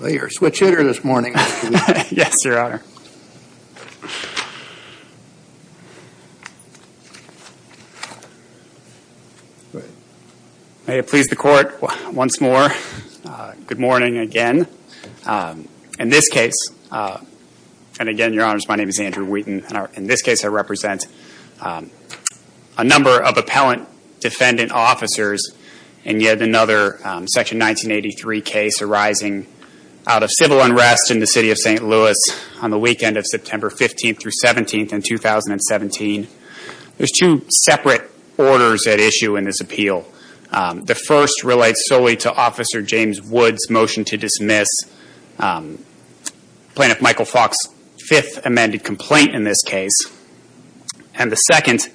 May it please the Court once more, good morning again. In this case, and again, Your Honors, my name is Andrew Wheaton. In this case, I represent a number of appellant defendant officers in yet another Section 1983 case arising out of civil unrest in the City of St. Louis on the weekend of September 15th through 17th in 2017. There's two separate orders at issue in this appeal. The first relates solely to Officer James Woods' motion to dismiss Plaintiff Michael Faulk's fifth amended complaint in this case. And the second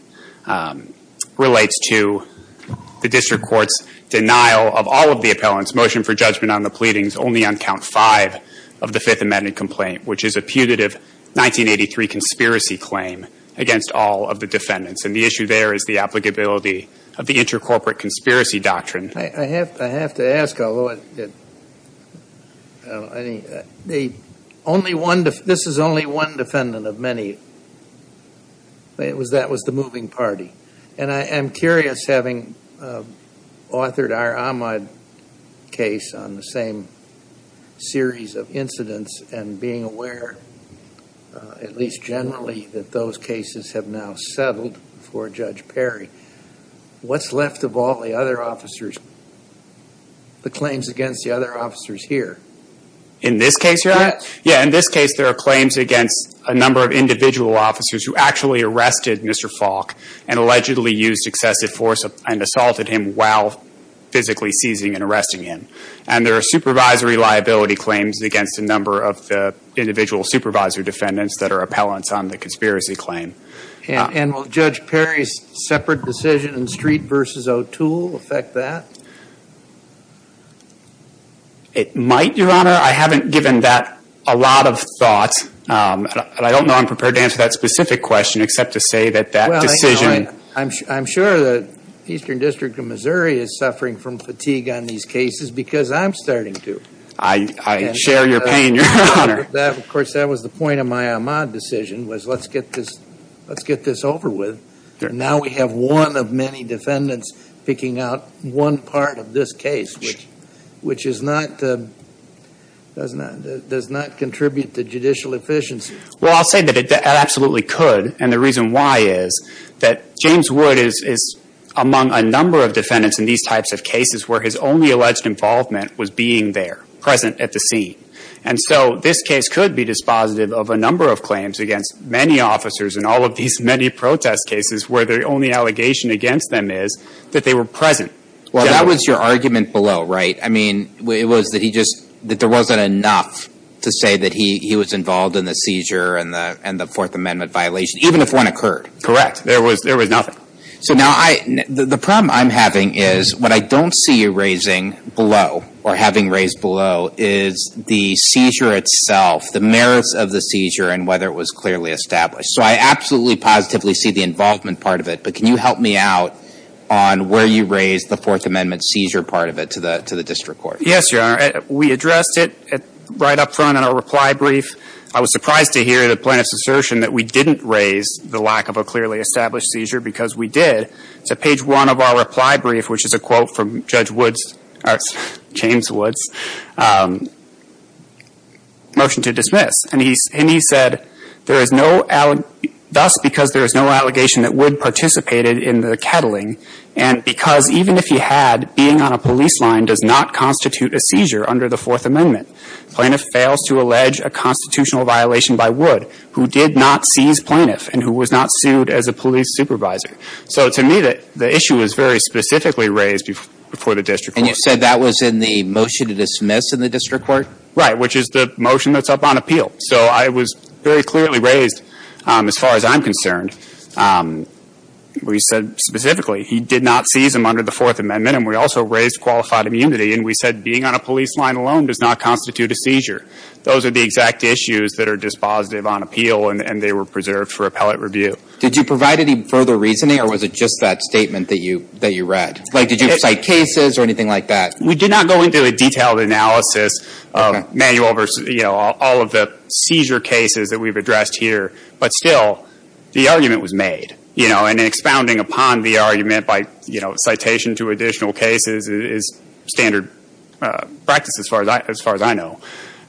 relates to the District Court's denial of all of the appellant's motion for judgment on the pleadings only on count five of the fifth amended complaint, which is a putative 1983 conspiracy claim against all of the defendants. And the issue there is the applicability of the intercorporate conspiracy doctrine. I have to ask, although this is only one defendant of many, that was the moving party. And I am curious, having authored our Ahmaud case on the same series of incidents and being aware, at least generally, that those cases have now settled before Judge Perry, what's left of all the other officers, the claims against the other officers here? In this case, Your Honor? Yeah, in this case there are claims against a number of individual officers who actually arrested Mr. Faulk and allegedly used excessive force and assaulted him while physically seizing and arresting him. And there are supervisory liability claims against a number of the individual supervisor defendants that are appellants on the conspiracy claim. And will Judge Perry's separate decision in I don't know I'm prepared to answer that specific question except to say that that decision Well, I'm sure the Eastern District of Missouri is suffering from fatigue on these cases because I'm starting to. I share your pain, Your Honor. Of course, that was the point of my Ahmaud decision was let's get this over with. And now we have one of many defendants picking out one part of this case, which which is not the does not does not contribute to judicial efficiency. Well, I'll say that it absolutely could. And the reason why is that James Wood is among a number of defendants in these types of cases where his only alleged involvement was being there, present at the scene. And so this case could be dispositive of a number of claims against many officers in all of these many protest cases where the only allegation against them is that they were present. Well, that was your argument below, right? I mean, it was that he just that there wasn't enough to say that he he was involved in the seizure and the and the Fourth Amendment violation, even if one occurred. Correct. There was there was nothing. So now I the problem I'm having is what I don't see you raising below or having raised below is the seizure itself, the merits of the seizure and whether it was clearly established. So I absolutely positively see the involvement part of it. But can you help me out on where you raise the Fourth Amendment seizure part of it to the to the district court? Yes, Your Honor. We addressed it right up front in our reply brief. I was surprised to hear the plaintiff's assertion that we didn't raise the lack of a clearly established seizure because we did. It's at page one of our reply brief, which is a quote from Judge Woods, James Woods, motion to dismiss. And he and he said there is no, thus because there is no allegation that Wood participated in the cattling and because even if he had being on a police line does not constitute a seizure under the Fourth Amendment. Plaintiff fails to allege a constitutional violation by Wood, who did not seize plaintiff and who was not sued as a police supervisor. So to me, the issue was very specifically raised before the district. And you said that was in the motion to dismiss in the district court? Right. Which is the motion that's up on appeal. So I was very clearly raised as far as I'm concerned. And we said specifically he did not seize him under the Fourth Amendment. And we also raised qualified immunity. And we said being on a police line alone does not constitute a seizure. Those are the exact issues that are dispositive on appeal. And they were preserved for appellate review. Did you provide any further reasoning or was it just that statement that you that you read? Like, did you cite cases or anything like that? We did not go into a detailed analysis of manual versus, you know, all of the seizure cases that we've made. You know, and expounding upon the argument by, you know, citation to additional cases is standard practice as far as I know.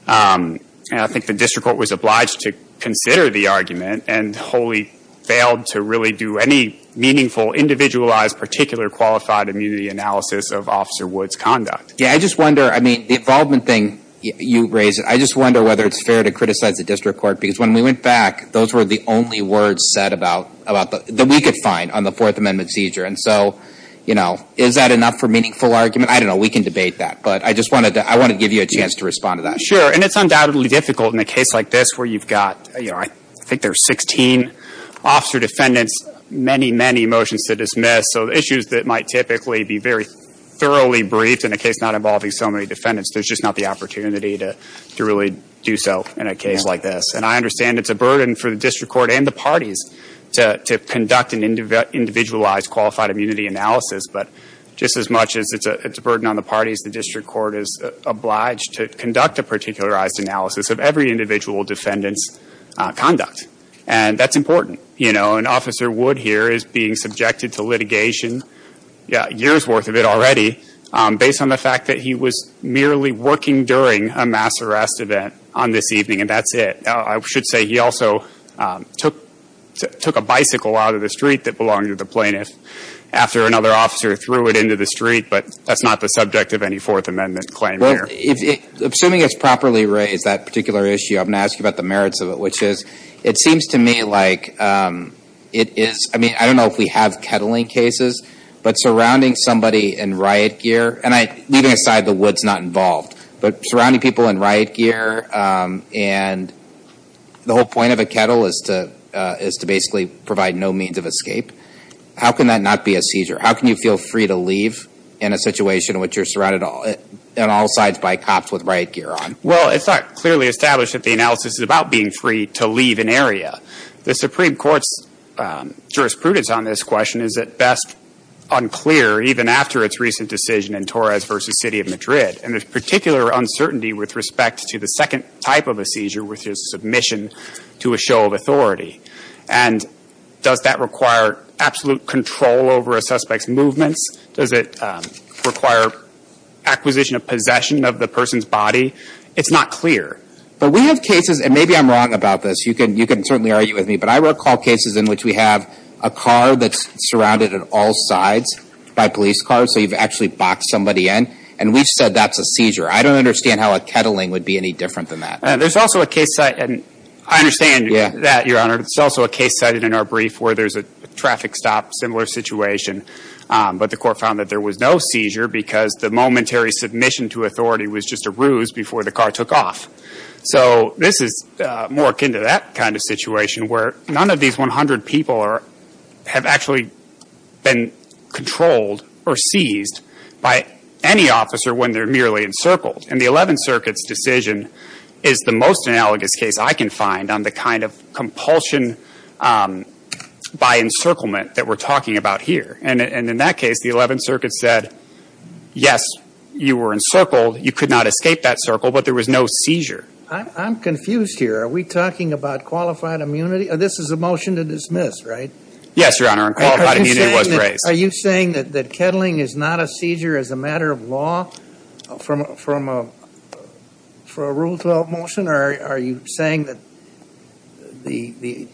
I think the district court was obliged to consider the argument and wholly failed to really do any meaningful individualized particular qualified immunity analysis of Officer Wood's conduct. Yeah, I just wonder, I mean, the involvement thing you raised, I just wonder whether it's fair to criticize the district court because when we went back, those were the only words said about, that we could find on the Fourth Amendment seizure. And so, you know, is that enough for meaningful argument? I don't know. We can debate that. But I just wanted to, I wanted to give you a chance to respond to that. Sure. And it's undoubtedly difficult in a case like this where you've got, you know, I think there's 16 officer defendants, many, many motions to dismiss. So issues that might typically be very thoroughly briefed in a case not involving so many defendants, there's just not the opportunity to really do so in a case like this. And I understand it's a burden for the district court and the parties to conduct an individualized qualified immunity analysis. But just as much as it's a burden on the parties, the district court is obliged to conduct a particularized analysis of every individual defendant's conduct. And that's important. You know, and Officer Wood here is being subjected to litigation, yeah, years' worth of it already, based on the fact that he was merely working during a mass arrest event on this evening. And that's it. I should say he also took, took a bicycle out of the street that belonged to the plaintiff after another officer threw it into the street. But that's not the subject of any Fourth Amendment claim here. Well, if, assuming it's properly raised, that particular issue, I'm going to ask you about the merits of it, which is, it seems to me like it is, I mean, I don't know if we have any peddling cases, but surrounding somebody in riot gear, and I, leaving aside the Woods not involved, but surrounding people in riot gear and the whole point of a kettle is to, is to basically provide no means of escape. How can that not be a seizure? How can you feel free to leave in a situation in which you're surrounded on all sides by cops with riot gear on? Well, it's not clearly established that the analysis is about being free to leave an area. The Supreme Court's jurisprudence on this question is at best unclear, even after its recent decision in Torres v. City of Madrid. And there's particular uncertainty with respect to the second type of a seizure, which is submission to a show of authority. And does that require absolute control over a suspect's movements? Does it require acquisition of possession of the person's body? It's not clear. But we have cases, and maybe I'm wrong about this, you can certainly argue with me, but I recall cases in which we have a car that's surrounded on all sides by police cars, so you've actually boxed somebody in, and we've said that's a seizure. I don't understand how a kettling would be any different than that. There's also a case, and I understand that, Your Honor, there's also a case cited in our brief where there's a traffic stop, similar situation, but the court found that there was no seizure because the momentary submission to authority was just a ruse before the car took off. So this is more akin to that kind of situation where none of these 100 people have actually been controlled or seized by any officer when they're merely encircled. And the Eleventh Circuit's decision is the most analogous case I can find on the kind of compulsion by encirclement that we're talking about here. And in that case, the Eleventh Circuit said, yes, you were encircled, you could not escape that circle, but there was no seizure. I'm confused here. Are we talking about qualified immunity? This is a motion to dismiss, right? Yes, Your Honor, and qualified immunity was raised. Are you saying that kettling is not a seizure as a matter of law for a Rule 12 motion, or are you saying that the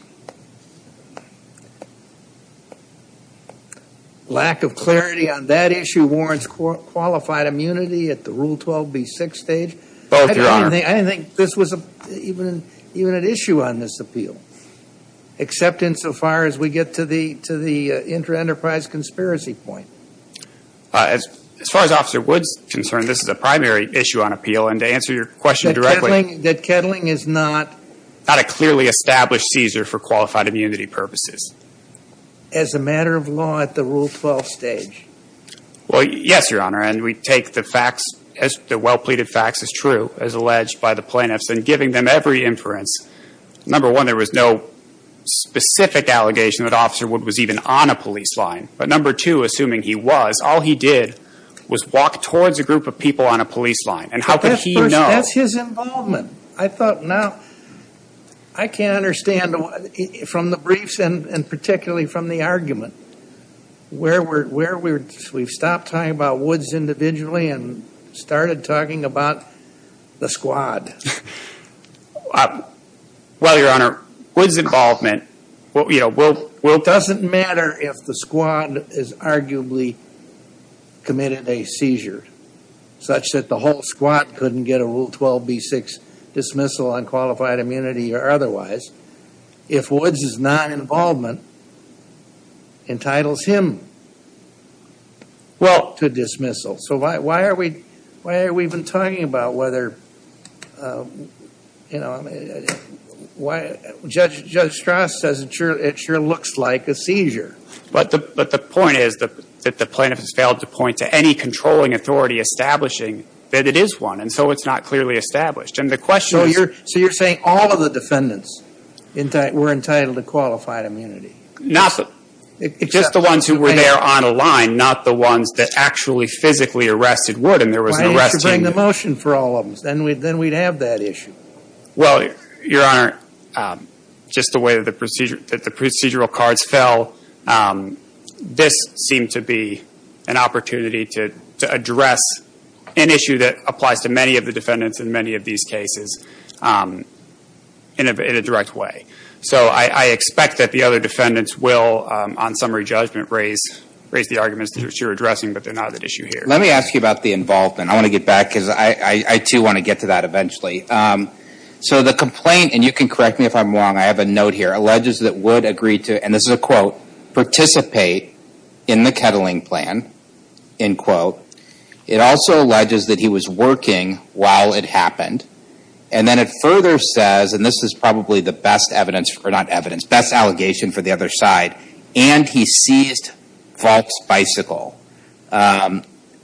lack of clarity on that issue warrants qualified immunity at the Rule 12b6 stage? Both, Your Honor. I don't think this was even an issue on this appeal, except insofar as we get to the intra-enterprise conspiracy point. As far as Officer Woods is concerned, this is a primary issue on appeal. And to answer your question directly — That kettling is not — Not a clearly established seizure for qualified immunity purposes. As a matter of law at the Rule 12 stage. Well, yes, Your Honor, and we take the facts, the well-pleaded facts as true, as alleged by the plaintiffs, and giving them every inference. Number one, there was no specific allegation that Officer Woods was even on a police line. But number two, assuming he was, all he did was walk towards a group of people on a police line. And how could he know — But that's his involvement. I thought, now, I can't understand from the briefs and particularly from the argument, where we're — we've stopped talking about Woods individually and started talking about the squad. Well, Your Honor, Woods' involvement, you know, we'll — Doesn't matter if the squad has arguably committed a seizure, such that the whole squad couldn't get a Rule 12b-6 dismissal on qualified immunity or otherwise. If Woods' non-involvement entitles him to dismissal. So why are we — why are we even talking about whether, you know, why — Judge Strass says it sure looks like a seizure. But the point is that the plaintiff has failed to point to any controlling authority establishing that it is one. And so it's not clearly established. And the question is — So you're saying all of the defendants were entitled to qualified immunity? Not — just the ones who were there on a line, not the ones that actually physically arrested Wood and there was an arrest team there. Why didn't you bring the motion for all of them? Then we'd have that issue. Well, Your Honor, just the way that the procedural cards fell, this seemed to be an opportunity to address an issue that applies to many of the defendants in many of these cases in a direct way. So I expect that the other defendants will, on summary judgment, raise the arguments that you're addressing, but they're not at issue here. Let me ask you about the involvement. I want to get back, because I, too, want to get to that eventually. So the complaint — and you can correct me if I'm wrong, I have a note here — alleges that Wood agreed to, and this is a quote, participate in the kettling plan, end quote. It also alleges that he was working while it happened. And then it further says — and this is probably the best evidence, or not evidence, best allegation for the other side — and he seized Falk's bicycle,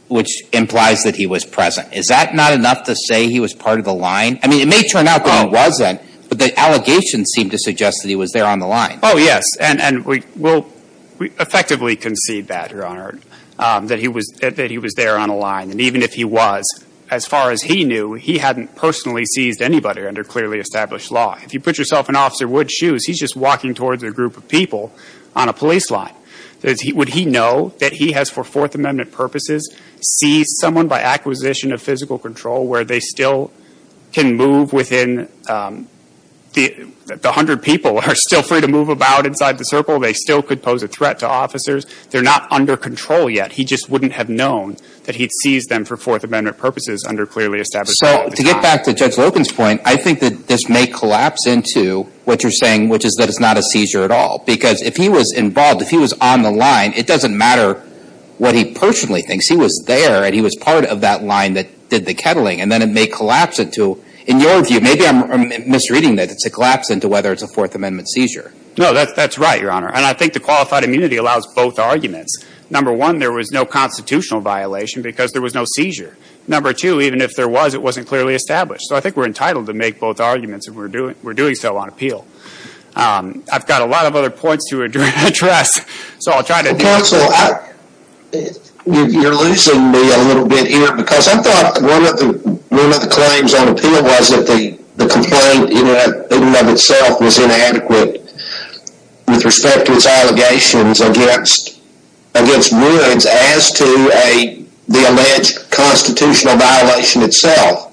which implies that he was present. Is that not enough to say he was part of the line? I mean, it may turn out that he wasn't, but the allegations seem to suggest that he was there on the line. Oh, yes. And we'll effectively concede that, Your Honor, that he was there on a line. And even if he was, as far as he knew, he hadn't personally seized anybody under clearly established law. If you put yourself in Officer Wood's shoes, he's just walking towards a group of people on a police line. Would he know that he has, for Fourth Amendment purposes, seized someone by acquisition of feel free to move about inside the circle. They still could pose a threat to officers. They're not under control yet. He just wouldn't have known that he'd seized them for Fourth Amendment purposes under clearly established law. So to get back to Judge Loken's point, I think that this may collapse into what you're saying, which is that it's not a seizure at all. Because if he was involved, if he was on the line, it doesn't matter what he personally thinks. He was there, and he was part of that line that did the kettling. And then it may collapse into — in your view, maybe I'm misreading this — it's a collapse into whether it's a Fourth Amendment seizure. No, that's right, Your Honor. And I think the qualified immunity allows both arguments. Number one, there was no constitutional violation because there was no seizure. Number two, even if there was, it wasn't clearly established. So I think we're entitled to make both arguments if we're doing so on appeal. I've got a lot of other points to address. So I'll try to — Counsel, you're losing me a little bit here because I thought one of the claims on appeal was that the complaint in and of itself was inadequate with respect to its allegations against Woods as to the alleged constitutional violation itself.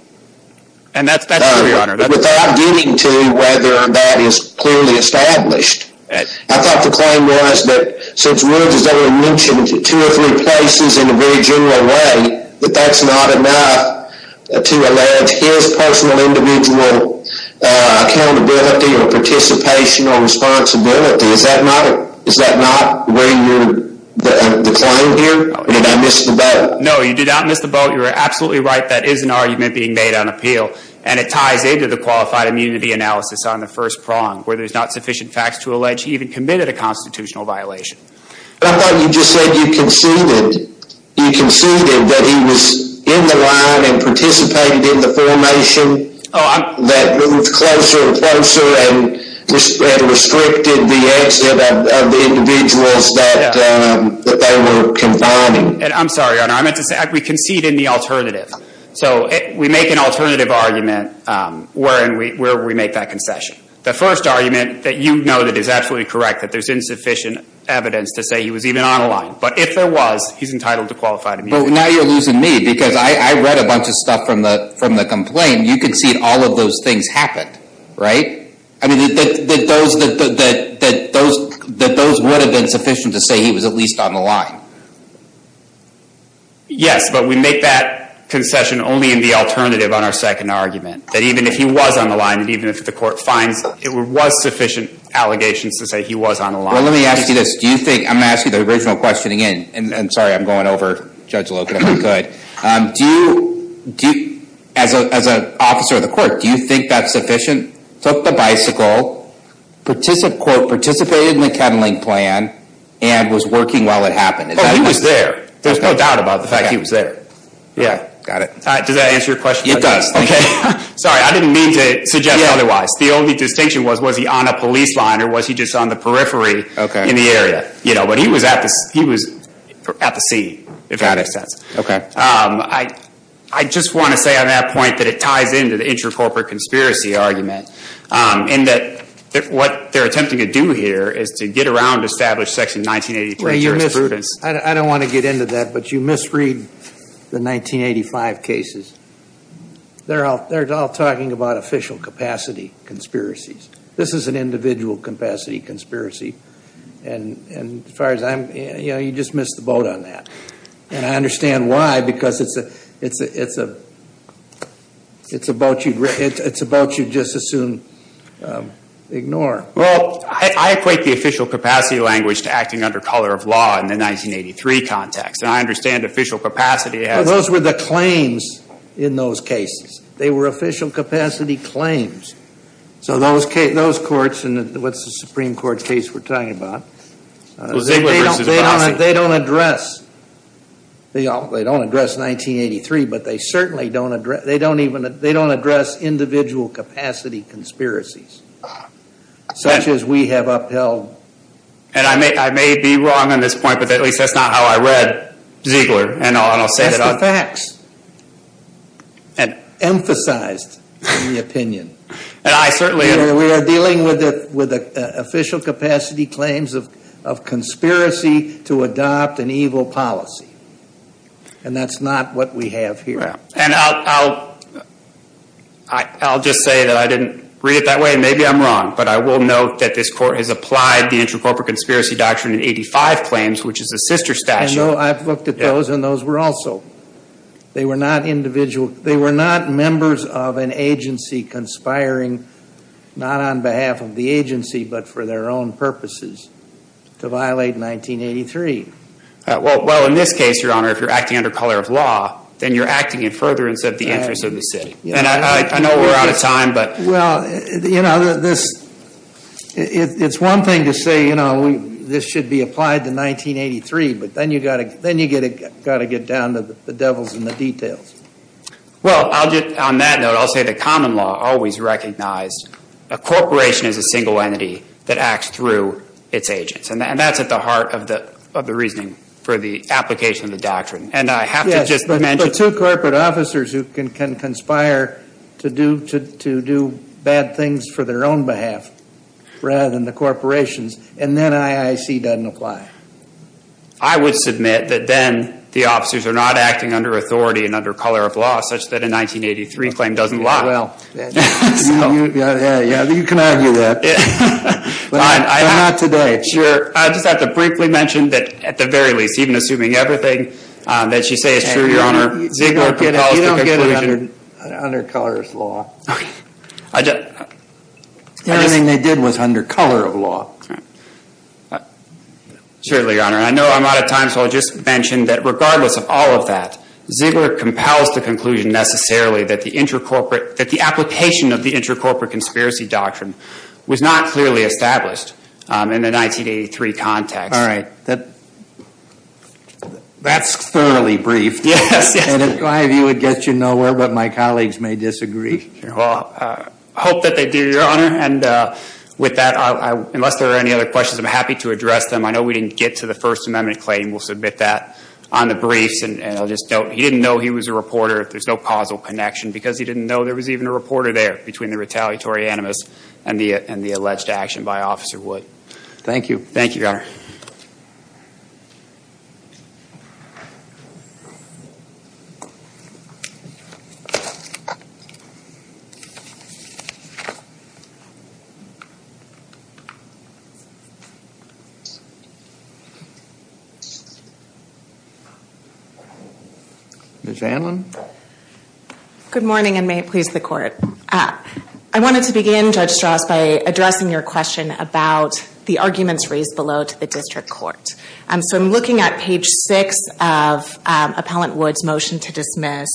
And that's true, Your Honor. But without getting to whether that is clearly established, I thought the claim was that since Woods has only mentioned two or three places in a very general way, that that's not enough to allege his personal individual accountability or participation or responsibility. Is that not where you're — the claim here? Did I miss the boat? No, you did not miss the boat. You're absolutely right. That is an argument being made on appeal. And it ties into the qualified immunity analysis on the first prong, where there's not sufficient facts to allege he even committed a constitutional violation. But I thought you just said you conceded — you conceded that he was in the line and participated in the formation that moved closer and closer and restricted the exit of the individuals that they were confining. I'm sorry, Your Honor. I meant to say, we conceded the alternative. So we make an alternative argument, wherein we — where we make that concession. The first argument that you noted is absolutely correct, that there's insufficient evidence to say he was even on the line. But if there was, he's entitled to qualified immunity. But now you're losing me, because I read a bunch of stuff from the complaint. You conceded all of those things happened, right? I mean, that those would have been sufficient to say he was at least on the line. Yes, but we make that concession only in the alternative on our second argument, that even if he was on the line, and even if the court finds it was sufficient allegations to say he was on the line. Well, let me ask you this. Do you think — I'm going to ask you the original question again, and sorry, I'm going over Judge Logan if I could — do you — as an officer of the court, do you think that's sufficient? Took the bicycle, participated in the kettling plan, and was working while it happened? Oh, he was there. There's no doubt about the fact he was there. Yeah. Got it. Does that answer your question? It does. It does. Okay. Sorry, I didn't mean to suggest otherwise. The only distinction was, was he on a police line, or was he just on the periphery in the area? Okay. You know, but he was at the scene, if that makes sense. Okay. I just want to say on that point that it ties into the intra-corporate conspiracy argument, and that what they're attempting to do here is to get around established Section 1983 jurisprudence. I don't want to get into that, but you misread the 1985 cases. They're all talking about official capacity conspiracies. This is an individual capacity conspiracy, and as far as I'm — you know, you just missed the boat on that. And I understand why, because it's a — it's a — it's a boat you'd — it's a boat you'd just as soon ignore. Well, I equate the official capacity language to acting under color of law in the 1983 context, and I understand official capacity has — Those were the claims in those cases. They were official capacity claims. So those courts in the — what's the Supreme Court case we're talking about? They don't address — they don't address 1983, but they certainly don't address — they And I may — I may be wrong on this point, but at least that's not how I read Ziegler, and I'll say that — That's the facts, emphasized in the opinion. And I certainly — You know, we are dealing with official capacity claims of conspiracy to adopt an evil policy, and that's not what we have here. And I'll — I'll just say that I didn't read it that way. Maybe I'm wrong, but I will note that this court has applied the intracorporate conspiracy doctrine in 85 claims, which is a sister statute. And though I've looked at those, and those were also — they were not individual — they were not members of an agency conspiring, not on behalf of the agency, but for their own purposes, to violate 1983. Well, in this case, Your Honor, if you're acting under color of law, then you're acting in furtherance of the interests of the city. And I know we're out of time, but — Well, you know, this — it's one thing to say, you know, this should be applied to 1983, but then you've got to — then you've got to get down to the devils in the details. Well, I'll just — on that note, I'll say the common law always recognized a corporation as a single entity that acts through its agents. And that's at the heart of the — of the reasoning for the application of the doctrine. And I have to just mention — There are two corporate officers who can conspire to do — to do bad things for their own behalf rather than the corporation's. And then IIC doesn't apply. I would submit that then the officers are not acting under authority and under color of law such that a 1983 claim doesn't lie. Well — So — Yeah, yeah. You can argue that. But not today. Sure. I just have to briefly mention that, at the very least, even assuming everything that she says is true, Your Honor, Ziegler compels the conclusion — You don't get it. You don't get it under color of law. Okay. I just — Everything they did was under color of law. All right. Certainly, Your Honor. And I know I'm out of time, so I'll just mention that, regardless of all of that, Ziegler compels the conclusion, necessarily, that the intercorporate — that the application of the intercorporate conspiracy doctrine was not clearly established in the 1983 context. All right. That — That's thoroughly briefed. Yes, yes. And it, in my view, would get you nowhere, but my colleagues may disagree. Well, I hope that they do, Your Honor. And with that, unless there are any other questions, I'm happy to address them. I know we didn't get to the First Amendment claim. We'll submit that on the briefs. And I'll just note, he didn't know he was a reporter. There's no causal connection, because he didn't know there was even a reporter there between the retaliatory animus and the alleged action by Officer Wood. Thank you. Thank you, Your Honor. Ms. Anlin. Good morning, and may it please the Court. I wanted to begin, Judge Strauss, by addressing your question about the arguments raised below to the district court. So I'm looking at page 6 of Appellant Wood's motion to dismiss,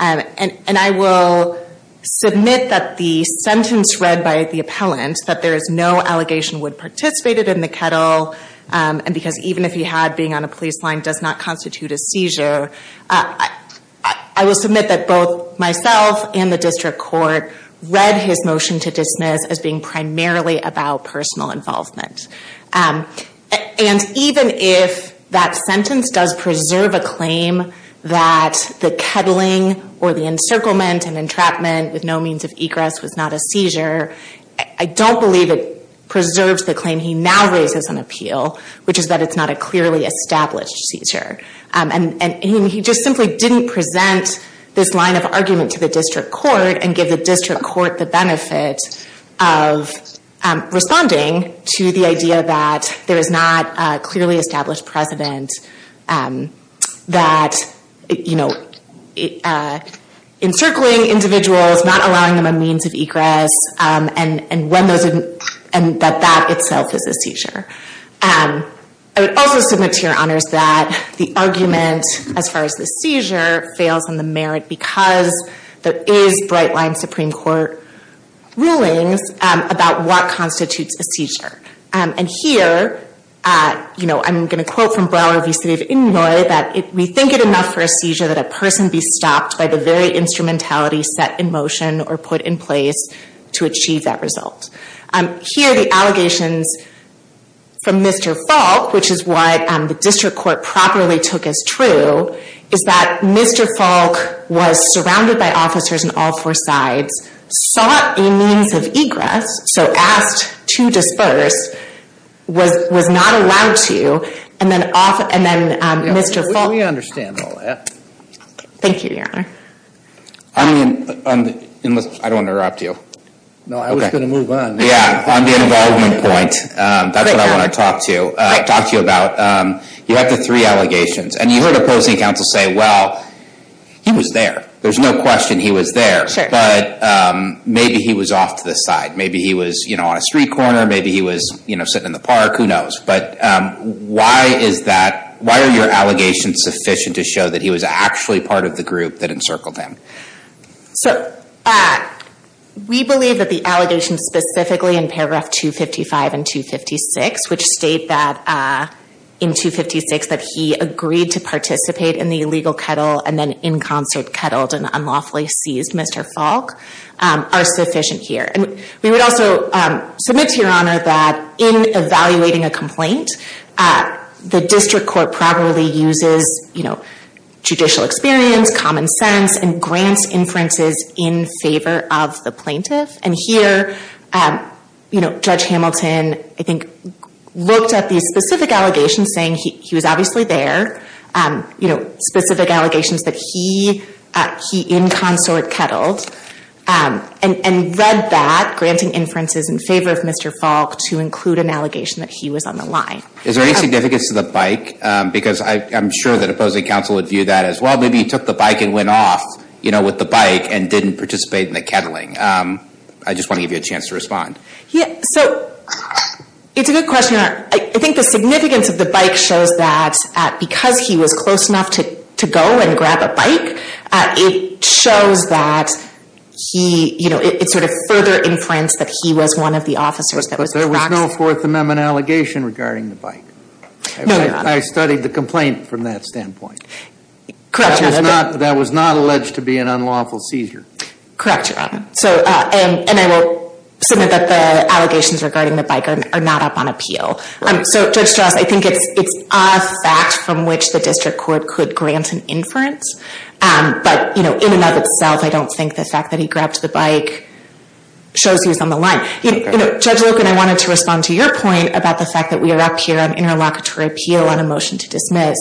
and I will submit that the sentence read by the appellant, that there is no allegation Wood participated in the kettle, and because even if he had, being on a police line does not constitute a seizure, I will submit that both myself and the district court read his motion to dismiss as being primarily about personal involvement. And even if that sentence does preserve a claim that the kettling or the encirclement and entrapment with no means of egress was not a seizure, I don't believe it preserves the claim he now raises on appeal, which is that it's not a clearly established seizure. And he just simply didn't present this line of argument to the district court and give the district court the benefit of responding to the idea that there is not a clearly established precedent that, you know, encircling individuals, not allowing them a means of egress, I would also submit to your honors that the argument as far as the seizure fails in the merit because there is bright-line Supreme Court rulings about what constitutes a seizure. And here, you know, I'm going to quote from Broward v. City of Inouye, that we think it enough for a seizure that a person be stopped by the very instrumentality set in motion or put in place to achieve that result. Here, the allegations from Mr. Falk, which is what the district court properly took as true, is that Mr. Falk was surrounded by officers on all four sides, sought a means of egress, so asked to disperse, was not allowed to, and then Mr. Falk... Yeah, we understand all that. Thank you, your honor. I mean, I don't want to interrupt you. No, I was going to move on. Yeah, on the involvement point, that's what I want to talk to you about. You have the three allegations, and you heard opposing counsel say, well, he was there. There's no question he was there, but maybe he was off to the side. Maybe he was, you know, on a street corner. Maybe he was, you know, sitting in the park. Who knows? But why is that? Why are your allegations sufficient to show that he was actually part of the group that encircled him? So we believe that the allegations specifically in paragraph 255 and 256, which state that in 256 that he agreed to participate in the illegal kettle and then in concert kettled and unlawfully seized Mr. Falk, are sufficient here. We would also submit to your honor that in evaluating a complaint, the district court properly uses, you know, judicial experience, common sense, and grants inferences in favor of the plaintiff. And here, you know, Judge Hamilton, I think, looked at these specific allegations saying he was obviously there, you know, specific allegations that he in consort kettled, and read that, granting inferences in favor of Mr. Falk, to include an allegation that he was on the line. Is there any significance to the bike? Because I'm sure that opposing counsel would view that as, well, maybe he took the bike and went off, you know, with the bike and didn't participate in the kettling. I just want to give you a chance to respond. So it's a good question. I think the significance of the bike shows that because he was close enough to go and grab a bike, it shows that he, you know, it sort of further inferenced that he was one of the officers. But there was no Fourth Amendment allegation regarding the bike. No, your honor. I studied the complaint from that standpoint. Correct, your honor. That was not alleged to be an unlawful seizure. Correct, your honor. So, and I will submit that the allegations regarding the bike are not up on appeal. Right. So, Judge Strauss, I think it's a fact from which the district court could grant an inference. But, you know, in and of itself, I don't think the fact that he grabbed the bike shows he was on the line. You know, Judge Loken, I wanted to respond to your point about the fact that we are up here on interlocutory appeal on a motion to dismiss.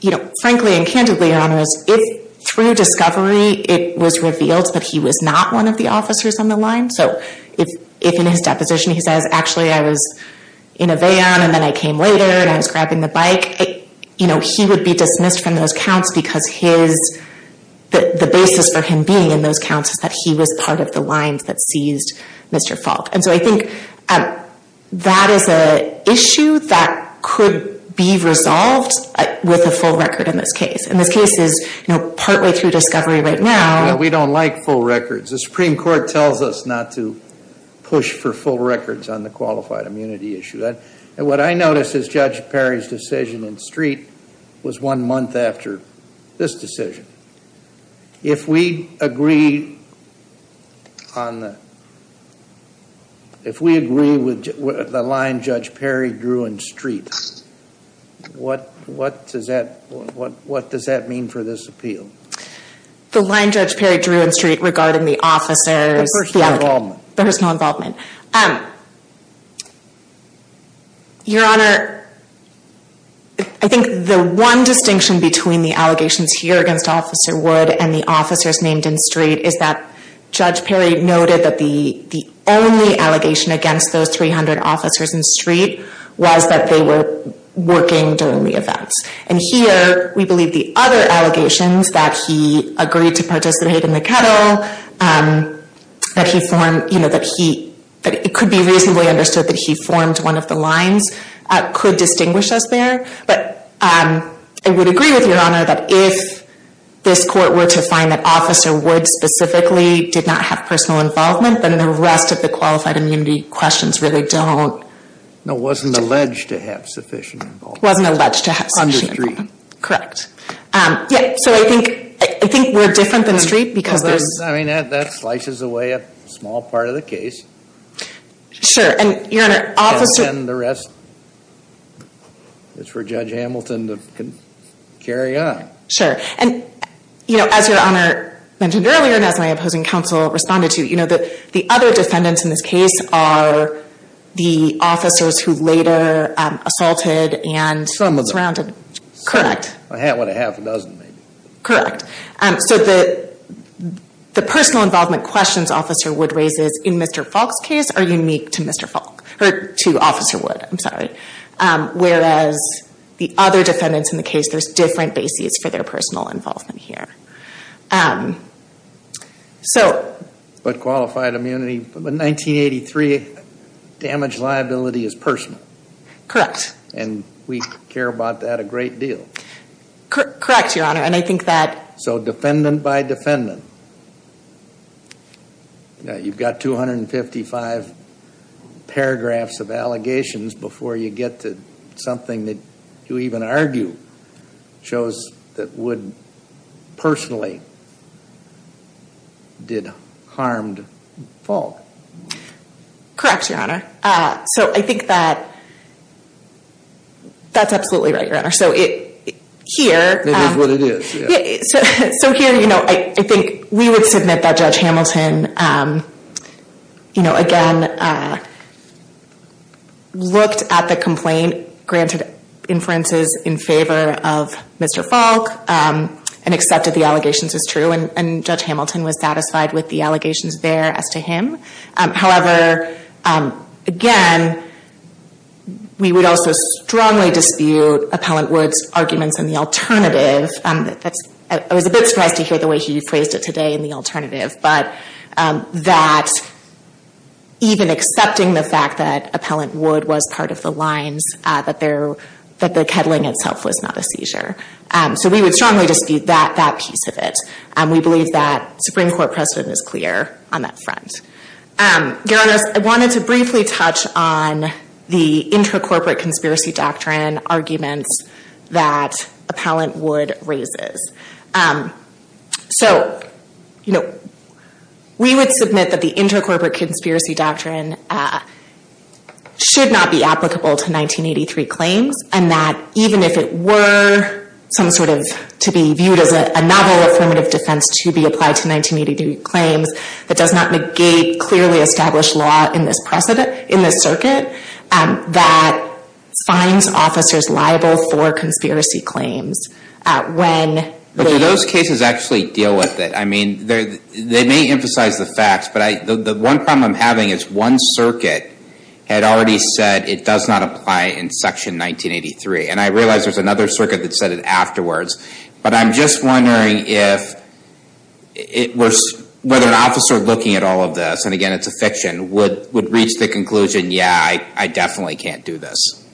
You know, frankly and candidly, your honor, if through discovery it was revealed that he was not one of the officers on the line, so if in his deposition he says, actually I was in a van and then I came later and I was grabbing the bike, you know, he would be dismissed from those counts because the basis for him being in those counts is that he was part of the lines that seized Mr. Falk. And so I think that is an issue that could be resolved with a full record in this case. And this case is, you know, partly through discovery right now. We don't like full records. The Supreme Court tells us not to push for full records on the qualified immunity issue. And what I notice is Judge Perry's decision in Street was one month after this decision. If we agree with the line Judge Perry drew in Street, what does that mean for this appeal? The line Judge Perry drew in Street regarding the officer's personal involvement. Your honor, I think the one distinction between the allegations here against Officer Wood and the officers named in Street is that Judge Perry noted that the only allegation against those 300 officers in Street was that they were working during the events. And here, we believe the other allegations, that he agreed to participate in the kettle, that he formed, you know, that he, that it could be reasonably understood that he formed one of the lines, could distinguish us there. But I would agree with your honor that if this court were to find that Officer Wood specifically did not have personal involvement, then the rest of the qualified immunity questions really don't. No, wasn't alleged to have sufficient involvement. Wasn't alleged to have sufficient involvement. On your street. Correct. Yeah, so I think, I think we're different than Street because there's... I mean, that slices away a small part of the case. Sure, and your honor, officers... And then the rest, it's for Judge Hamilton to carry on. Sure, and you know, as your honor mentioned earlier, and as my opposing counsel responded to, you know, the other defendants in this case are the officers who later assaulted and surrounded... Some of them. Correct. I had what, a half a dozen maybe. Correct. So the personal involvement questions Officer Wood raises in Mr. Falk's case are unique to Mr. Falk, or to Officer Wood, I'm sorry. Whereas the other defendants in the case, there's different bases for their personal involvement here. So... But qualified immunity, but 1983, damage liability is personal. Correct. And we care about that a great deal. Correct, your honor, and I think that... So defendant by defendant. You've got 255 paragraphs of allegations before you get to something that you even argue shows that Wood personally did harm to Falk. Correct, your honor. So I think that... That's absolutely right, your honor. So here... Maybe that's what it is. So here, you know, I think we would submit that Judge Hamilton, you know, again, looked at the complaint, granted inferences in favor of Mr. Falk, and accepted the allegations as true, and Judge Hamilton was satisfied with the allegations there as to him. However, again, we would also strongly dispute Appellant Wood's arguments in the alternative. I was a bit surprised to hear the way he phrased it today in the alternative. But that even accepting the fact that Appellant Wood was part of the lines, that the kettling itself was not a seizure. So we would strongly dispute that piece of it. And we believe that Supreme Court precedent is clear on that front. Your honor, I wanted to briefly touch on the intercorporate conspiracy doctrine arguments that Appellant Wood raises. So, you know, we would submit that the intercorporate conspiracy doctrine should not be applicable to 1983 claims, and that even if it were some sort of, to be viewed as a novel affirmative defense to be applied to 1983 claims, that does not negate clearly established law in this circuit that finds officers liable for conspiracy claims. When... Do those cases actually deal with it? I mean, they may emphasize the facts, but the one problem I'm having is one circuit had already said it does not apply in section 1983. And I realize there's another circuit that said it afterwards. But I'm just wondering whether an officer looking at all of this, and again, it's a fiction, would reach the conclusion, yeah, I definitely can't do this,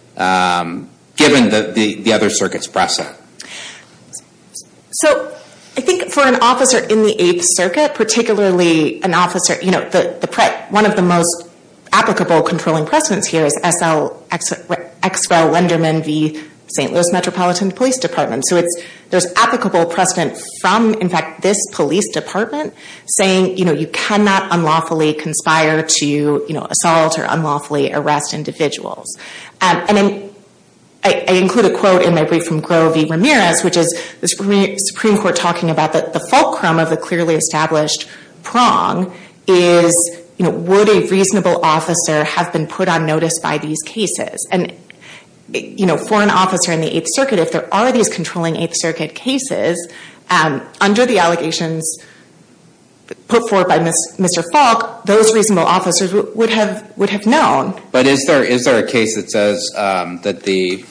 given the other circuit's precedent. So, I think for an officer in the Eighth Circuit, particularly an officer, you know, one of the most applicable controlling precedents here is S.L. Exwell-Lenderman v. St. Louis Metropolitan Police Department. So there's applicable precedent from, in fact, this police department saying, you know, you cannot unlawfully conspire to, you know, assault or unlawfully arrest individuals. And I include a quote in my brief from Groh v. Ramirez, which is the Supreme Court talking about the fulcrum of the clearly established prong is, you know, would a reasonable officer have been put on notice by these cases? And, you know, for an officer in the Eighth Circuit, if there are these controlling Eighth Circuit cases, under the allegations put forth by Mr. Falk, those reasonable officers would have known. But is there a case that says that the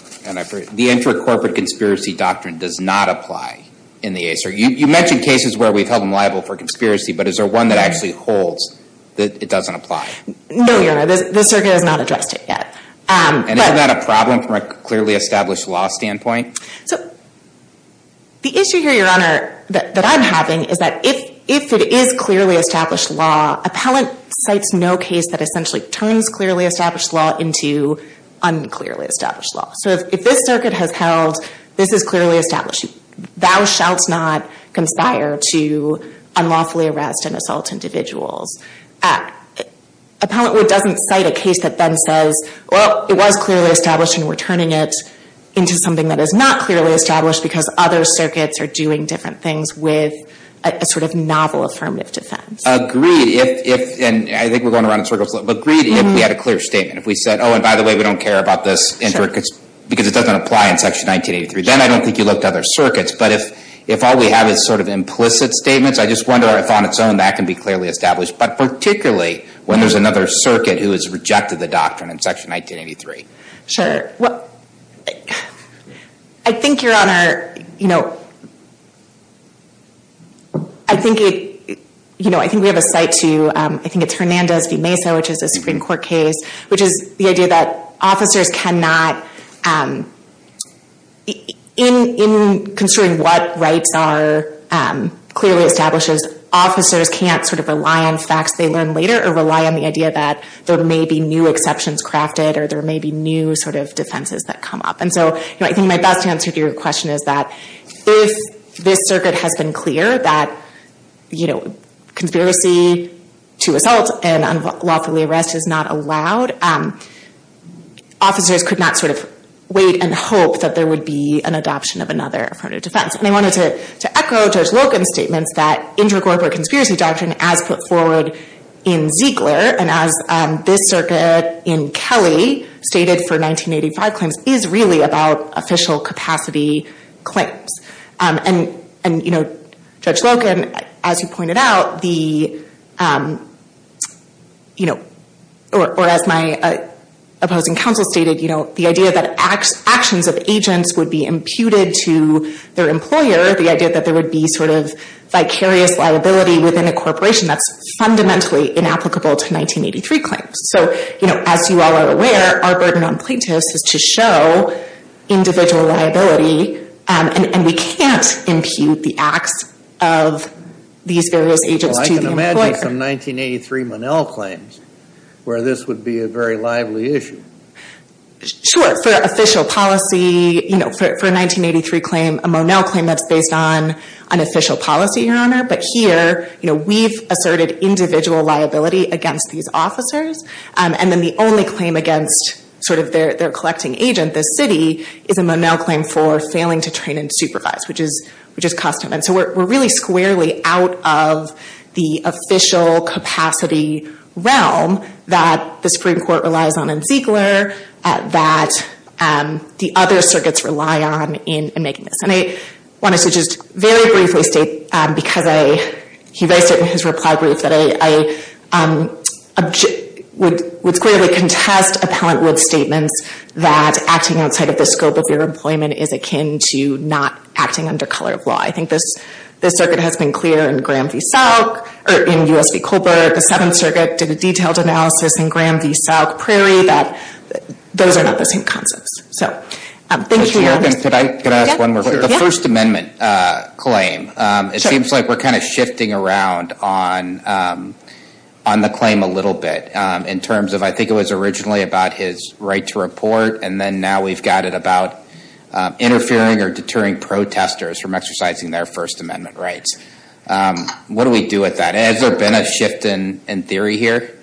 inter-corporate conspiracy doctrine does not apply in the Eighth Circuit? You mentioned cases where we've held them liable for conspiracy, but is there one that actually holds that it doesn't apply? No, Your Honor, the circuit has not addressed it yet. And is that a problem from a clearly established law standpoint? So, the issue here, Your Honor, that I'm having is that if it is clearly established law, appellant cites no case that essentially turns clearly established law into unclearly established law. So if this circuit has held this is clearly established, thou shalt not conspire to unlawfully arrest and assault individuals. Appellant Wood doesn't cite a case that then says, well, it was clearly established and we're turning it into something that is not clearly established because other circuits are doing different things with a sort of novel affirmative defense. Agreed, if, and I think we're going around in circles, but agreed if we had a clear statement. If we said, oh, and by the way, we don't care about this, because it doesn't apply in Section 1983. Then I don't think you look to other circuits. But if all we have is sort of implicit statements, I just wonder if on its own that can be clearly established. But particularly when there's another circuit who has rejected the doctrine in Section 1983. Sure. Well, I think you're on our, you know, I think it, you know, I think we have a site to, I think it's Hernandez v. Mesa, which is a Supreme Court case, which is the idea that officers cannot, in considering what rights are clearly established, officers can't sort of rely on facts they learn later or rely on the idea that there may be new exceptions crafted or there may be new sort of defenses that come up. And so, you know, I think my best answer to your question is that if this circuit has been clear that, you know, conspiracy to assault and unlawfully arrest is not allowed, officers could not sort of wait and hope that there would be an adoption of another affirmative defense. And I wanted to echo Judge Logan's statements that inter-corporate conspiracy doctrine, as put forward in Ziegler and as this circuit in Kelly stated for 1985 claims, is really about official capacity claims. And, you know, Judge Logan, as you pointed out, the, you know, or as my opposing counsel stated, you know, the idea that actions of agents would be imputed to their employer, the idea that there would be sort of vicarious liability within a corporation that's fundamentally inapplicable to 1983 claims. So, you know, as you all are aware, our burden on plaintiffs is to show individual liability, and we can't impute the acts of these various agents to the employer. Can you imagine some 1983 Monell claims where this would be a very lively issue? Sure. For official policy, you know, for a 1983 claim, a Monell claim that's based on an official policy, Your Honor. But here, you know, we've asserted individual liability against these officers. And then the only claim against sort of their collecting agent, the city, is a Monell claim for failing to train and supervise, which is custom. And so we're really squarely out of the official capacity realm that the Supreme Court relies on in Ziegler, that the other circuits rely on in making this. And I wanted to just very briefly state, because I hear very certainly in his reply brief, that I would squarely contest Appellant Wood's statements that acting outside of the scope of your employment is akin to not acting under color of law. I think this circuit has been clear in Graham v. Salk, or in U.S. v. Colbert. The Seventh Circuit did a detailed analysis in Graham v. Salk Prairie that those are not the same concepts. So thank you, Your Honor. Can I ask one more question? Sure. The First Amendment claim, it seems like we're kind of shifting around on the claim a little bit, and then now we've got it about interfering or deterring protesters from exercising their First Amendment rights. What do we do with that? Has there been a shift in theory here?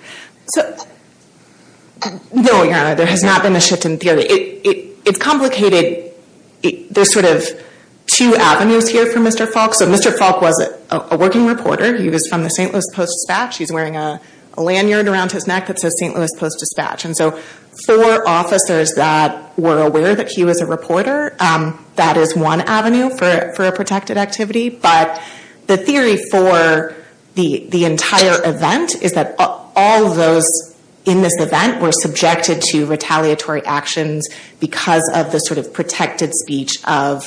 No, Your Honor, there has not been a shift in theory. It's complicated. There's sort of two avenues here for Mr. Falk. So Mr. Falk was a working reporter. He was from the St. Louis Post-Dispatch. He's wearing a lanyard around his neck that says St. Louis Post-Dispatch. And so for officers that were aware that he was a reporter, that is one avenue for a protected activity. But the theory for the entire event is that all of those in this event were subjected to retaliatory actions because of the sort of protected speech of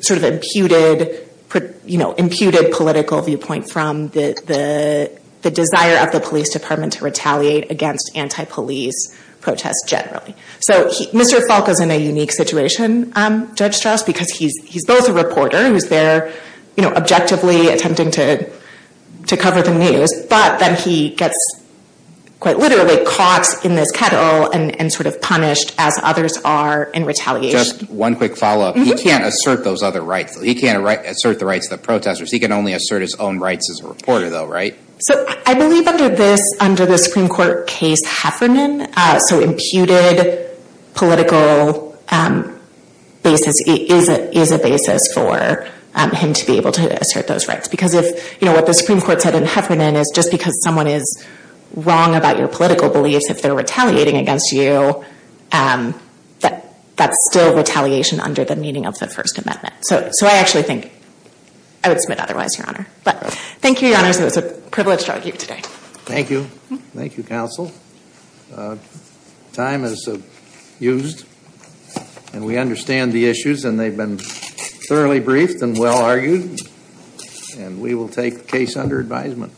sort of imputed political viewpoint from the desire of the police department to retaliate against anti-police protests generally. So Mr. Falk is in a unique situation, Judge Strauss, because he's both a reporter who's there objectively attempting to cover the news, but then he gets quite literally caught in this kettle and sort of punished as others are in retaliation. Just one quick follow-up. He can't assert those other rights. He can't assert the rights of the protesters. He can only assert his own rights as a reporter, though, right? So I believe under this, under the Supreme Court case Heffernan, so imputed political basis is a basis for him to be able to assert those rights. Because if, you know, what the Supreme Court said in Heffernan is just because someone is wrong about your political beliefs, if they're retaliating against you, that's still retaliation under the meaning of the First Amendment. So I actually think I would submit otherwise, Your Honor. But thank you, Your Honors. It was a privilege to argue today. Thank you. Thank you, counsel. Time is used. And we understand the issues, and they've been thoroughly briefed and well argued. And we will take the case under advisement.